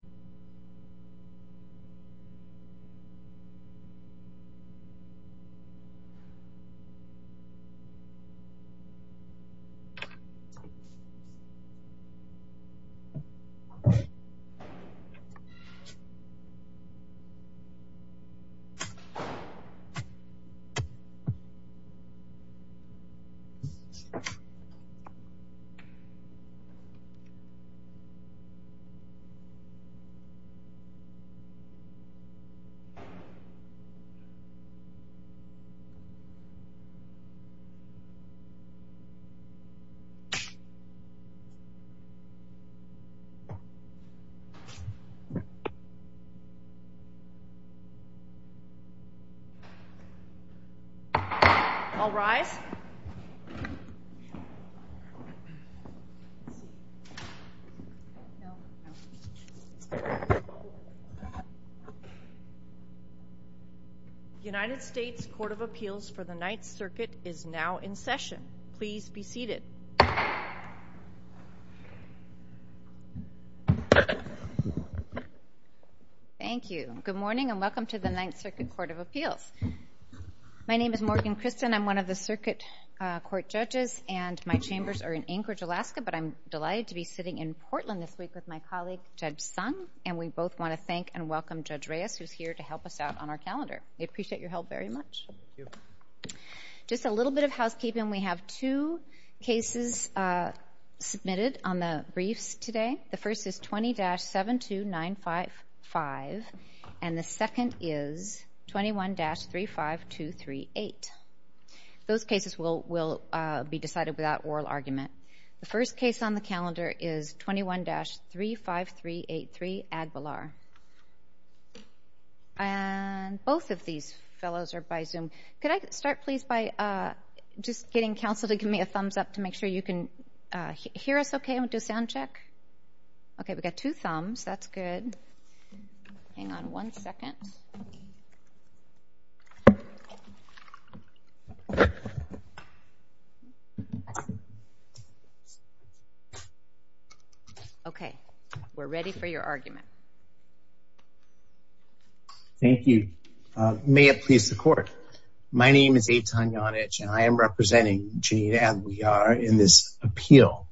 Tina Aguilar v. Kilolo Kijakazi All rise United States Court of Appeals for the Ninth Circuit is now in session. Please be seated. Thank you. Good morning and welcome to the Ninth Circuit Court of Appeals. My name is Morgan Christen. I'm one of the circuit court judges and my chambers are in Anchorage, Alaska but I'm delighted to be sitting in Portland this week with my colleague Judge Sung and we both want to thank and welcome Judge Reyes who's here to help us out on our calendar. We appreciate your help very much. Thank you. Just a little bit of housekeeping. We have two cases submitted on the briefs today. The first is 20-72955 and the second is 21-35238. Those cases will be decided without oral argument. The first case on the calendar is 21-35383 Aguilar. And both of these fellows are by Zoom. Could I start please by just getting counsel to give me a thumbs up to make sure you can hear us okay and do a sound Okay. We're ready for your argument. Thank you. May it please the court. My name is Eitan Yonich and I am representing Janine Aguilar in this appeal.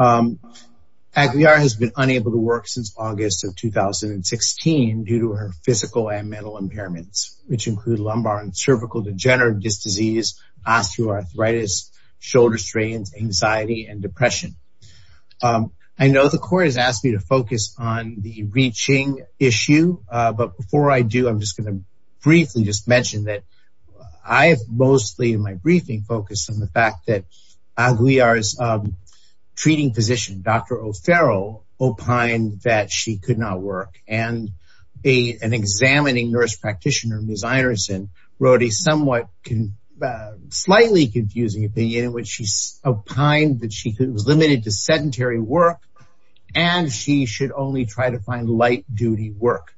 Aguilar has been unable to work since August of 2016 due to her physical and mental impairments which include lumbar and cervical degenerative disease, osteoarthritis, shoulder strains, anxiety, and depression. I know the court has asked me to focus on the reaching issue. But before I do, I'm just going to briefly just mention that I have mostly in my briefing focused on the fact that Aguilar's treating physician, Dr. O'Farrell, opined that she could not work. And an examining nurse practitioner, Ms. Ironson, wrote a somewhat slightly confusing opinion in which she opined that she was limited to sedentary work and she should only try to find light duty work.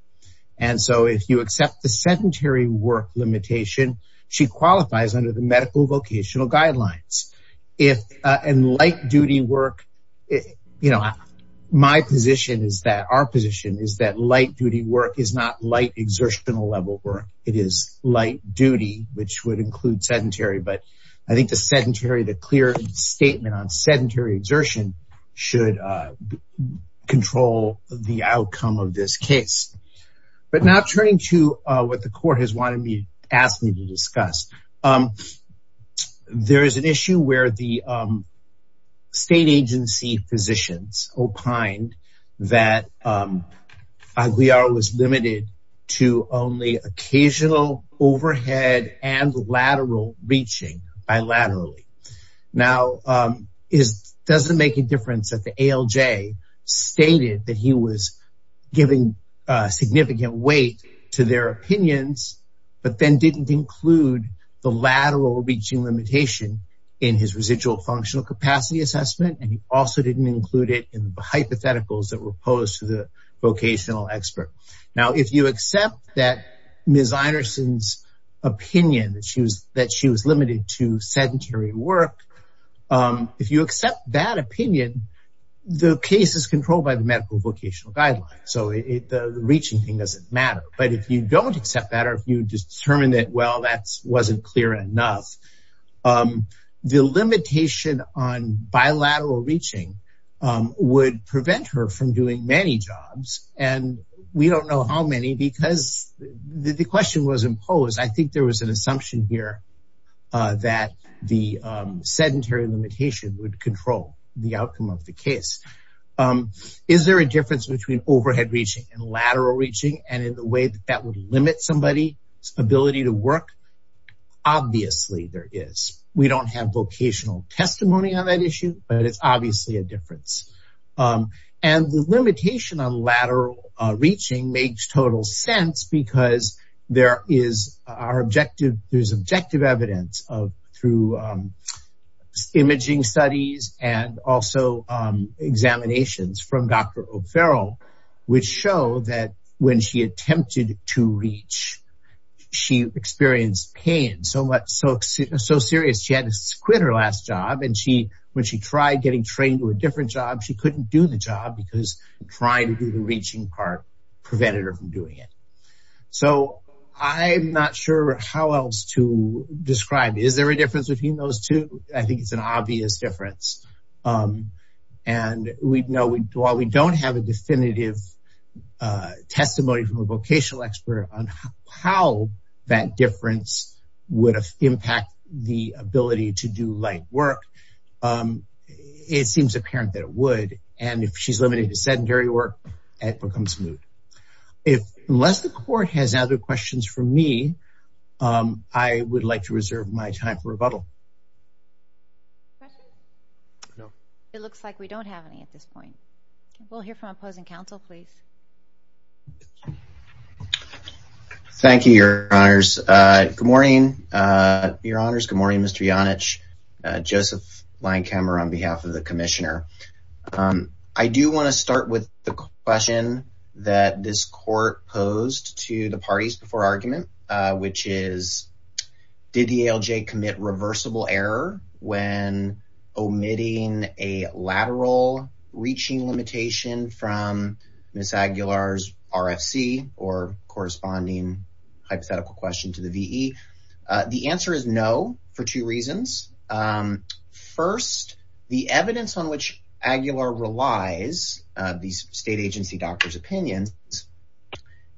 And so if you accept the sedentary work limitation, she qualifies under the medical vocational guidelines. And light duty work, you know, my position is that, our position is that light duty work is not light exertional level work. It is light duty, which would include sedentary. But I think the sedentary, the clear statement on sedentary exertion should control the outcome of this case. But now turning to what the court has wanted me, asked me to discuss. There is an issue where the state agency physicians opined that Aguilar was limited to only occasional overhead and lateral reaching bilaterally. Now, it doesn't make a difference that the ALJ stated that he was giving significant weight to their opinions, but then didn't include the lateral reaching limitation in his residual functional capacity assessment. And he also didn't include it in the hypotheticals that were posed to the vocational expert. Now, if you accept that Ms. Anderson's opinion that she was limited to sedentary work, if you accept that opinion, the case is controlled by the medical vocational guidelines. So the reaching thing doesn't matter. But if you don't accept that, or if you determine that, well, that wasn't clear enough, the limitation on bilateral reaching would prevent her from doing many jobs. And we don't know how many because the question was imposed. I think there was an assumption here that the sedentary limitation would control the outcome of the case. Is there a difference between overhead reaching and lateral reaching and in the way that that would limit somebody's ability to work? Obviously, there is. We don't have vocational testimony on that issue, but it's obviously a difference. And the limitation on lateral reaching makes total sense because there is objective evidence through imaging studies and also examinations from Dr. O'Farrell, which show that when she attempted to reach, she experienced pain so serious, she had to quit her last job. And when she tried getting trained to a different job, she couldn't do the job because trying to do the reaching part prevented her from doing it. So I'm not sure how else to describe it. Is there a difference between those two? I think it's an obvious difference. And while we don't have a definitive testimony from a vocational expert on how that difference would impact the ability to do light work, it seems apparent that it would. And if she's limited to sedentary work, it becomes moot. Unless the court has other questions for me, I would like to reserve my time for rebuttal. It looks like we don't have any at this point. We'll hear from opposing counsel, please. Thank you, Your Honors. Good morning, Your Honors. Good morning, Mr. Yonich. Joseph Linekhammer on behalf of the Commissioner. I do want to start with the question that this is, did the ALJ commit reversible error when omitting a lateral reaching limitation from Ms. Aguilar's RFC or corresponding hypothetical question to the VE? The answer is no for two reasons. First, the evidence on which Aguilar relies, the state agency doctor's opinion,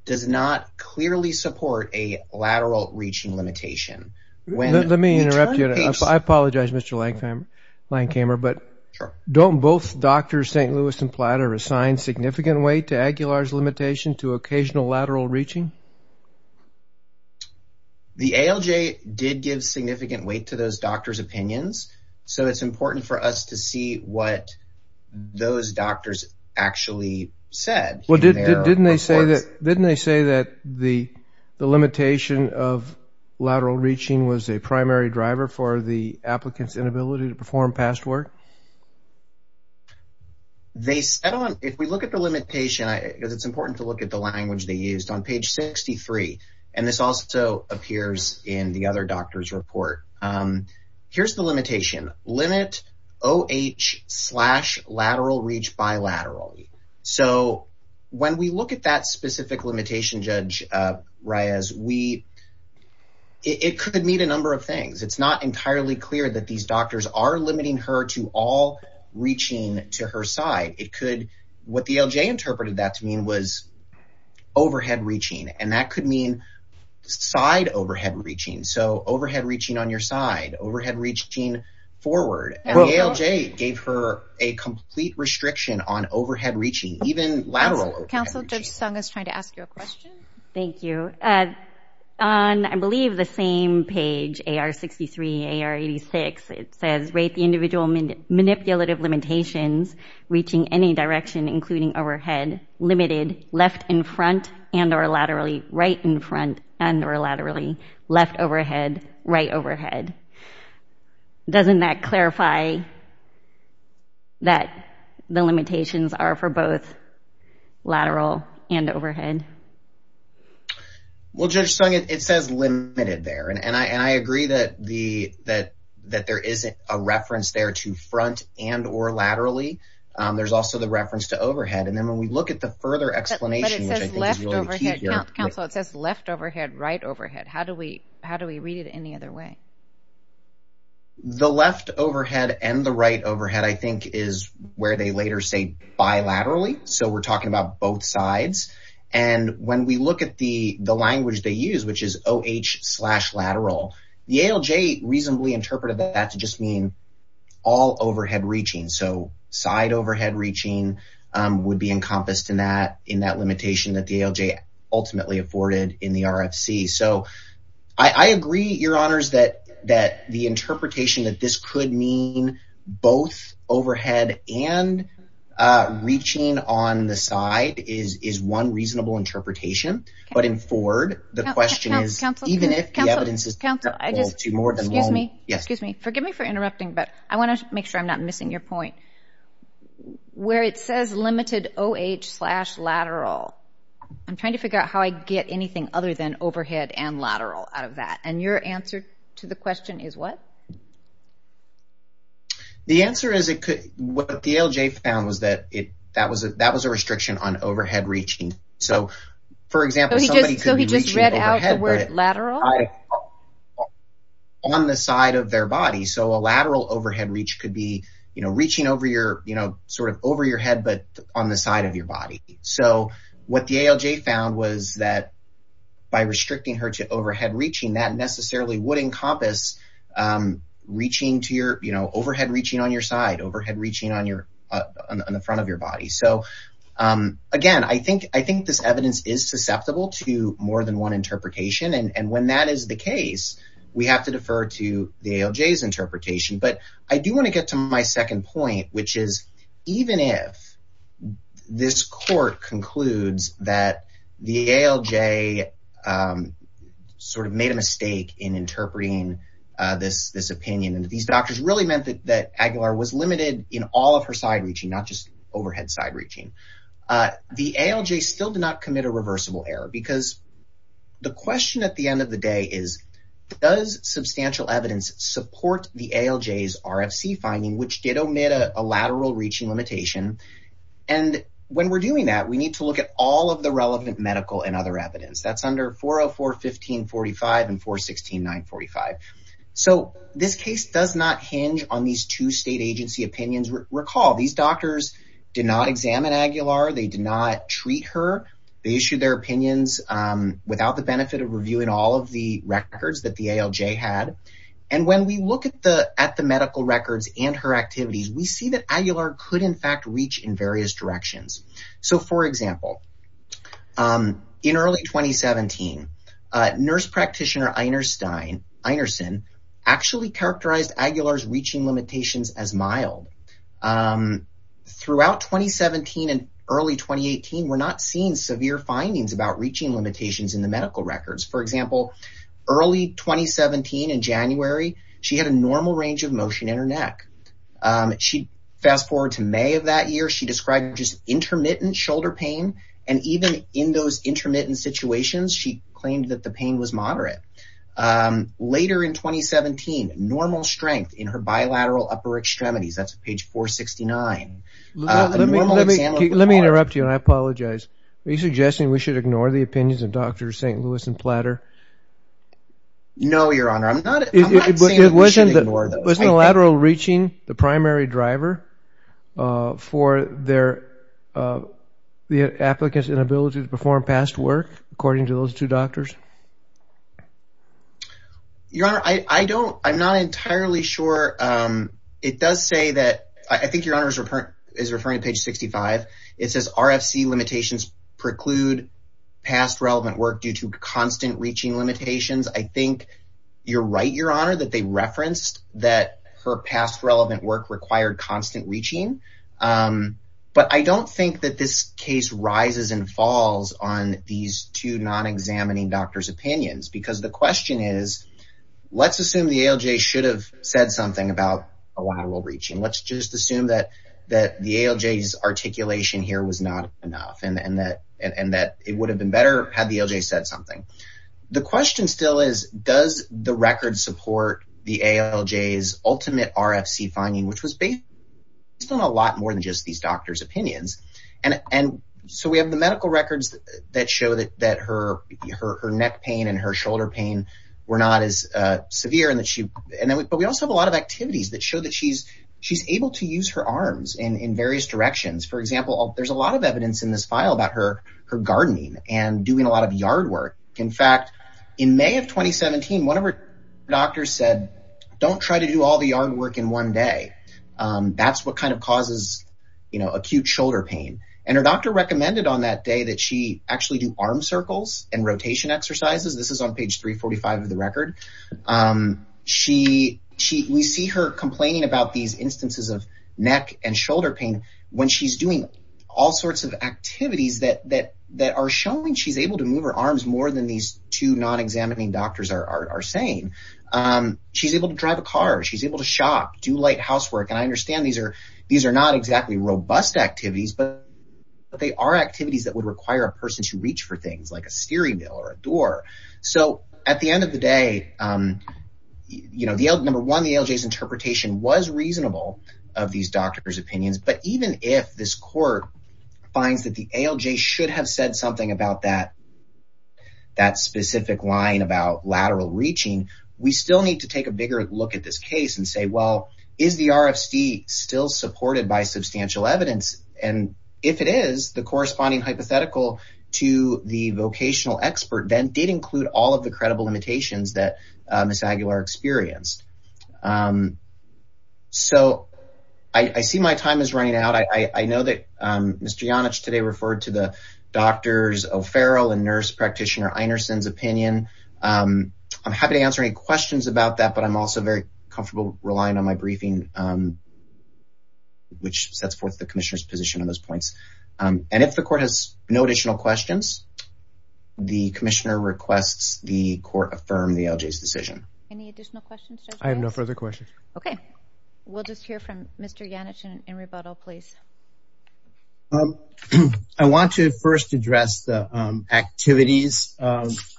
does not clearly support a lateral reaching limitation. Let me interrupt you. I apologize, Mr. Linekhammer, but don't both Drs. St. Louis and Platter assign significant weight to Aguilar's limitation to occasional lateral reaching? The ALJ did give significant weight to those doctors' opinions, so it's important for us to see what those doctors actually said. Didn't they say that the limitation of lateral reaching was a primary driver for the applicant's inability to perform past work? If we look at the limitation, because it's important to look at the language they used, on page 63, and this also appears in the other doctor's report, here's the limitation. Limit OH slash lateral reach bilaterally. When we look at that specific limitation, Judge Reyes, it could mean a number of things. It's not entirely clear that these doctors are limiting her to all reaching to her side. What the ALJ interpreted that to mean was overhead reaching, and that could mean side overhead reaching, so overhead reaching on your side, overhead reaching forward. The ALJ gave her a complete restriction on overhead reaching, even lateral overhead reaching. Counsel, Judge Sung is trying to ask you a question. Thank you. On, I believe, the same page, AR 63, AR 86, it says, rate the individual manipulative limitations reaching any direction, including overhead, limited, left in front and or laterally, right in front and or laterally, left overhead, right overhead. Doesn't that clarify that the limitations are for both lateral and overhead? Well, Judge Sung, it says limited there, and I agree that there isn't a reference there to front and or laterally. There's also the reference to overhead, and then when we look at the further explanation, it says left overhead, right overhead. How do we read it any other way? The left overhead and the right overhead, I think, is where they later say bilaterally, so we're talking about both sides, and when we look at the language they use, which is OH slash lateral, the ALJ reasonably interpreted that to just mean all overhead reaching, so side that limitation that the ALJ ultimately afforded in the RFC, so I agree, Your Honors, that the interpretation that this could mean both overhead and reaching on the side is one reasonable interpretation, but in Ford, the question is, even if the evidence is critical to more than one. Excuse me, forgive me for interrupting, but I want to make sure I'm not missing your point. Where it says limited OH slash lateral, I'm trying to figure out how I get anything other than overhead and lateral out of that, and your answer to the question is what? The answer is, what the ALJ found was that that was a restriction on overhead reaching, so for example, somebody could be reaching overhead, but on the side of their body, so a lateral overhead could be reaching over your head, but on the side of your body, so what the ALJ found was that by restricting her to overhead reaching, that necessarily would encompass overhead reaching on your side, overhead reaching on the front of your body, so again, I think this evidence is susceptible to more than one interpretation, and when that is the case, we have to defer to the ALJ's interpretation, but I do want to get to my second point, which is, even if this court concludes that the ALJ sort of made a mistake in interpreting this opinion, and these doctors really meant that Aguilar was limited in all of her side reaching, not just overhead side reaching, the ALJ still did not commit a reversible error, because the question at the end of the day is, does substantial evidence support the ALJ's RFC finding, which did omit a lateral reaching limitation, and when we're doing that, we need to look at all of the relevant medical and other evidence, that's under 404-1545 and 416-945, so this case does not hinge on these two state agency opinions, recall these doctors did not examine Aguilar, they did not treat her, they issued their opinions without the benefit of reviewing all of the records that the ALJ had, and when we look at the medical records and her activities, we see that Aguilar could in fact reach in various directions, so for example, in early 2017, nurse practitioner Einersen actually characterized Aguilar's reaching limitations as mild, throughout 2017 and early 2018, we're not seeing severe findings about reaching limitations in the medical records, for example, early 2017 in January, she had a normal range of motion in her neck, she fast forward to May of that year, she described just intermittent shoulder pain, and even in those intermittent situations, she claimed that the pain was upper extremities, that's page 469. Let me interrupt you and I apologize, are you suggesting we should ignore the opinions of Drs. St. Louis and Platter? No, your honor, I'm not saying we should ignore them. Was the lateral reaching the primary driver for the applicant's inability to perform past work, according to those two doctors? Your honor, I'm not entirely sure it does say that, I think your honor is referring to page 65, it says RFC limitations preclude past relevant work due to constant reaching limitations, I think you're right, your honor, that they referenced that her past relevant work required constant reaching, but I don't think that this case rises and falls on these two non-examining doctors opinions, because the question is, let's assume the ALJ should have said something about a lateral reaching, let's just assume that that the ALJ's articulation here was not enough, and that it would have been better had the ALJ said something. The question still is, does the record support the ALJ's ultimate RFC finding, which was based on a lot more than just these doctors opinions, and so we have the medical records that show that her neck pain and her shoulder pain were not as severe, but we also have a lot of activities that show that she's able to use her arms in various directions, for example, there's a lot of evidence in this file about her gardening and doing a lot of yard work, in fact, in May of 2017, one of her doctors said, don't try to do all the yard work in one day, that's what causes acute shoulder pain, and her doctor recommended on that day that she actually do arm circles and rotation exercises, this is on page 345 of the record, we see her complaining about these instances of neck and shoulder pain when she's doing all sorts of activities that are showing she's able to move her arms more than these two non-examining doctors are saying, she's able to drive a car, she's able to shop, do light housework, and I understand these are not exactly robust activities, but they are activities that would require a person to reach for things like a steering wheel or a door, so at the end of the day, number one, the ALJ's interpretation was reasonable of these doctors opinions, but even if this court finds that the we still need to take a bigger look at this case and say, well, is the RFC still supported by substantial evidence, and if it is, the corresponding hypothetical to the vocational expert then did include all of the credible limitations that Ms. Aguilar experienced, so I see my time is running out, I know that Mr. Janich today referred to the questions about that, but I'm also very comfortable relying on my briefing, which sets forth the commissioner's position on those points, and if the court has no additional questions, the commissioner requests the court affirm the ALJ's decision. Any additional questions? I have no further questions. Okay, we'll just hear from Mr. Janich in rebuttal, please. I want to first address the activities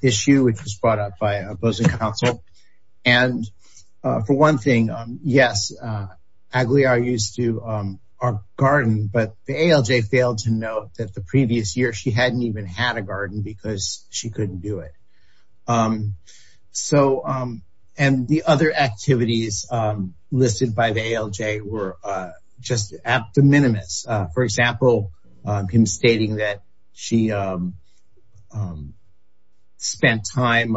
issue, which was brought up by the opposing counsel, and for one thing, yes, Aguilar used to garden, but the ALJ failed to note that the previous year she hadn't even had a garden because she couldn't do it, and the other activities listed by the ALJ were just abdominimous, for example, him stating that she spent time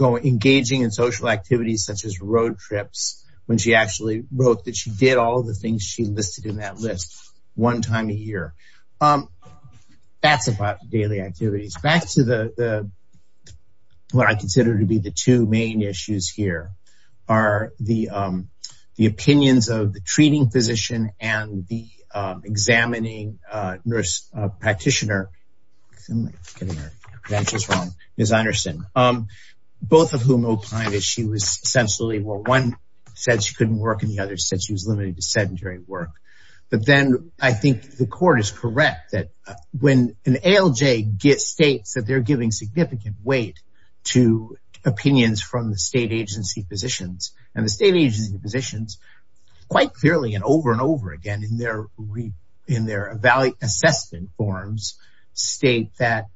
engaging in social activities, such as road trips, when she actually wrote that she did all of the things she listed in that list one time a year. That's about daily activities. Back to what I consider to be the two main issues here are the opinions of the treating physician and the examining nurse practitioner, both of whom opined that one said she couldn't work, and the other said she was limited to sedentary work, but then I think the court is correct that when an ALJ states that they're giving significant weight to opinions from the state agency physicians, and the state agency physicians quite clearly and over and over again in their assessment forms state that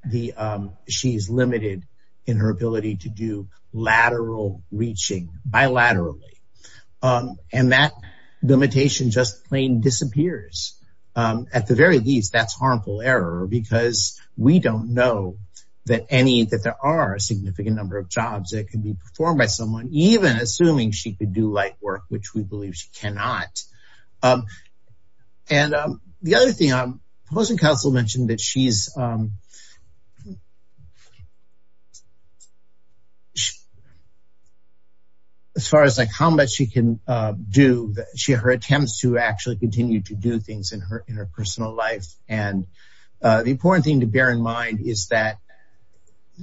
she's limited in her ability to do lateral reaching, bilaterally, and that limitation just plain disappears. At the very least, that's harmful error because we don't know that there are a significant number of jobs that can be performed by someone, even assuming she could do light work, which we believe she cannot. The other thing, the opposing counsel mentioned that she's, as far as how much she can do, her attempts to actually continue to do things in her personal life, and the important thing to bear in mind is that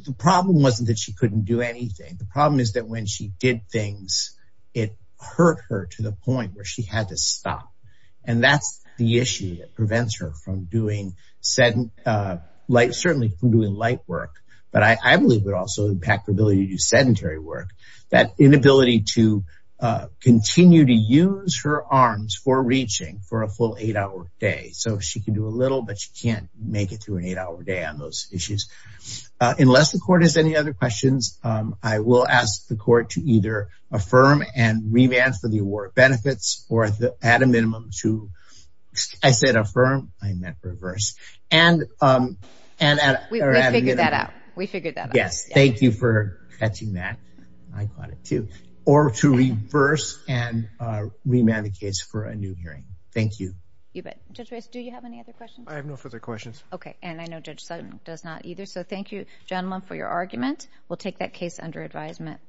the problem wasn't that she couldn't do anything. The problem is that when she did things, it hurt her to the point where she had to stop, and that's the issue that prevents her from doing light work, but I believe it would also impact her ability to do sedentary work, that inability to continue to use her arms for reaching for a full eight-hour day. So she can do a little, but she can't make it through an eight-hour day on those issues. Unless the court has any other questions, I will ask the court to either affirm and remand for the award benefits, or at a minimum to, I said affirm, I meant reverse, and yes, thank you for catching that, I caught it too, or to reverse and remand the case for a new hearing. Thank you. You bet. Judge Rice, do you have any other questions? I have no further questions. Okay, and I know Judge Sutton does not either, so thank you gentlemen for your argument. We'll take that case under advisement.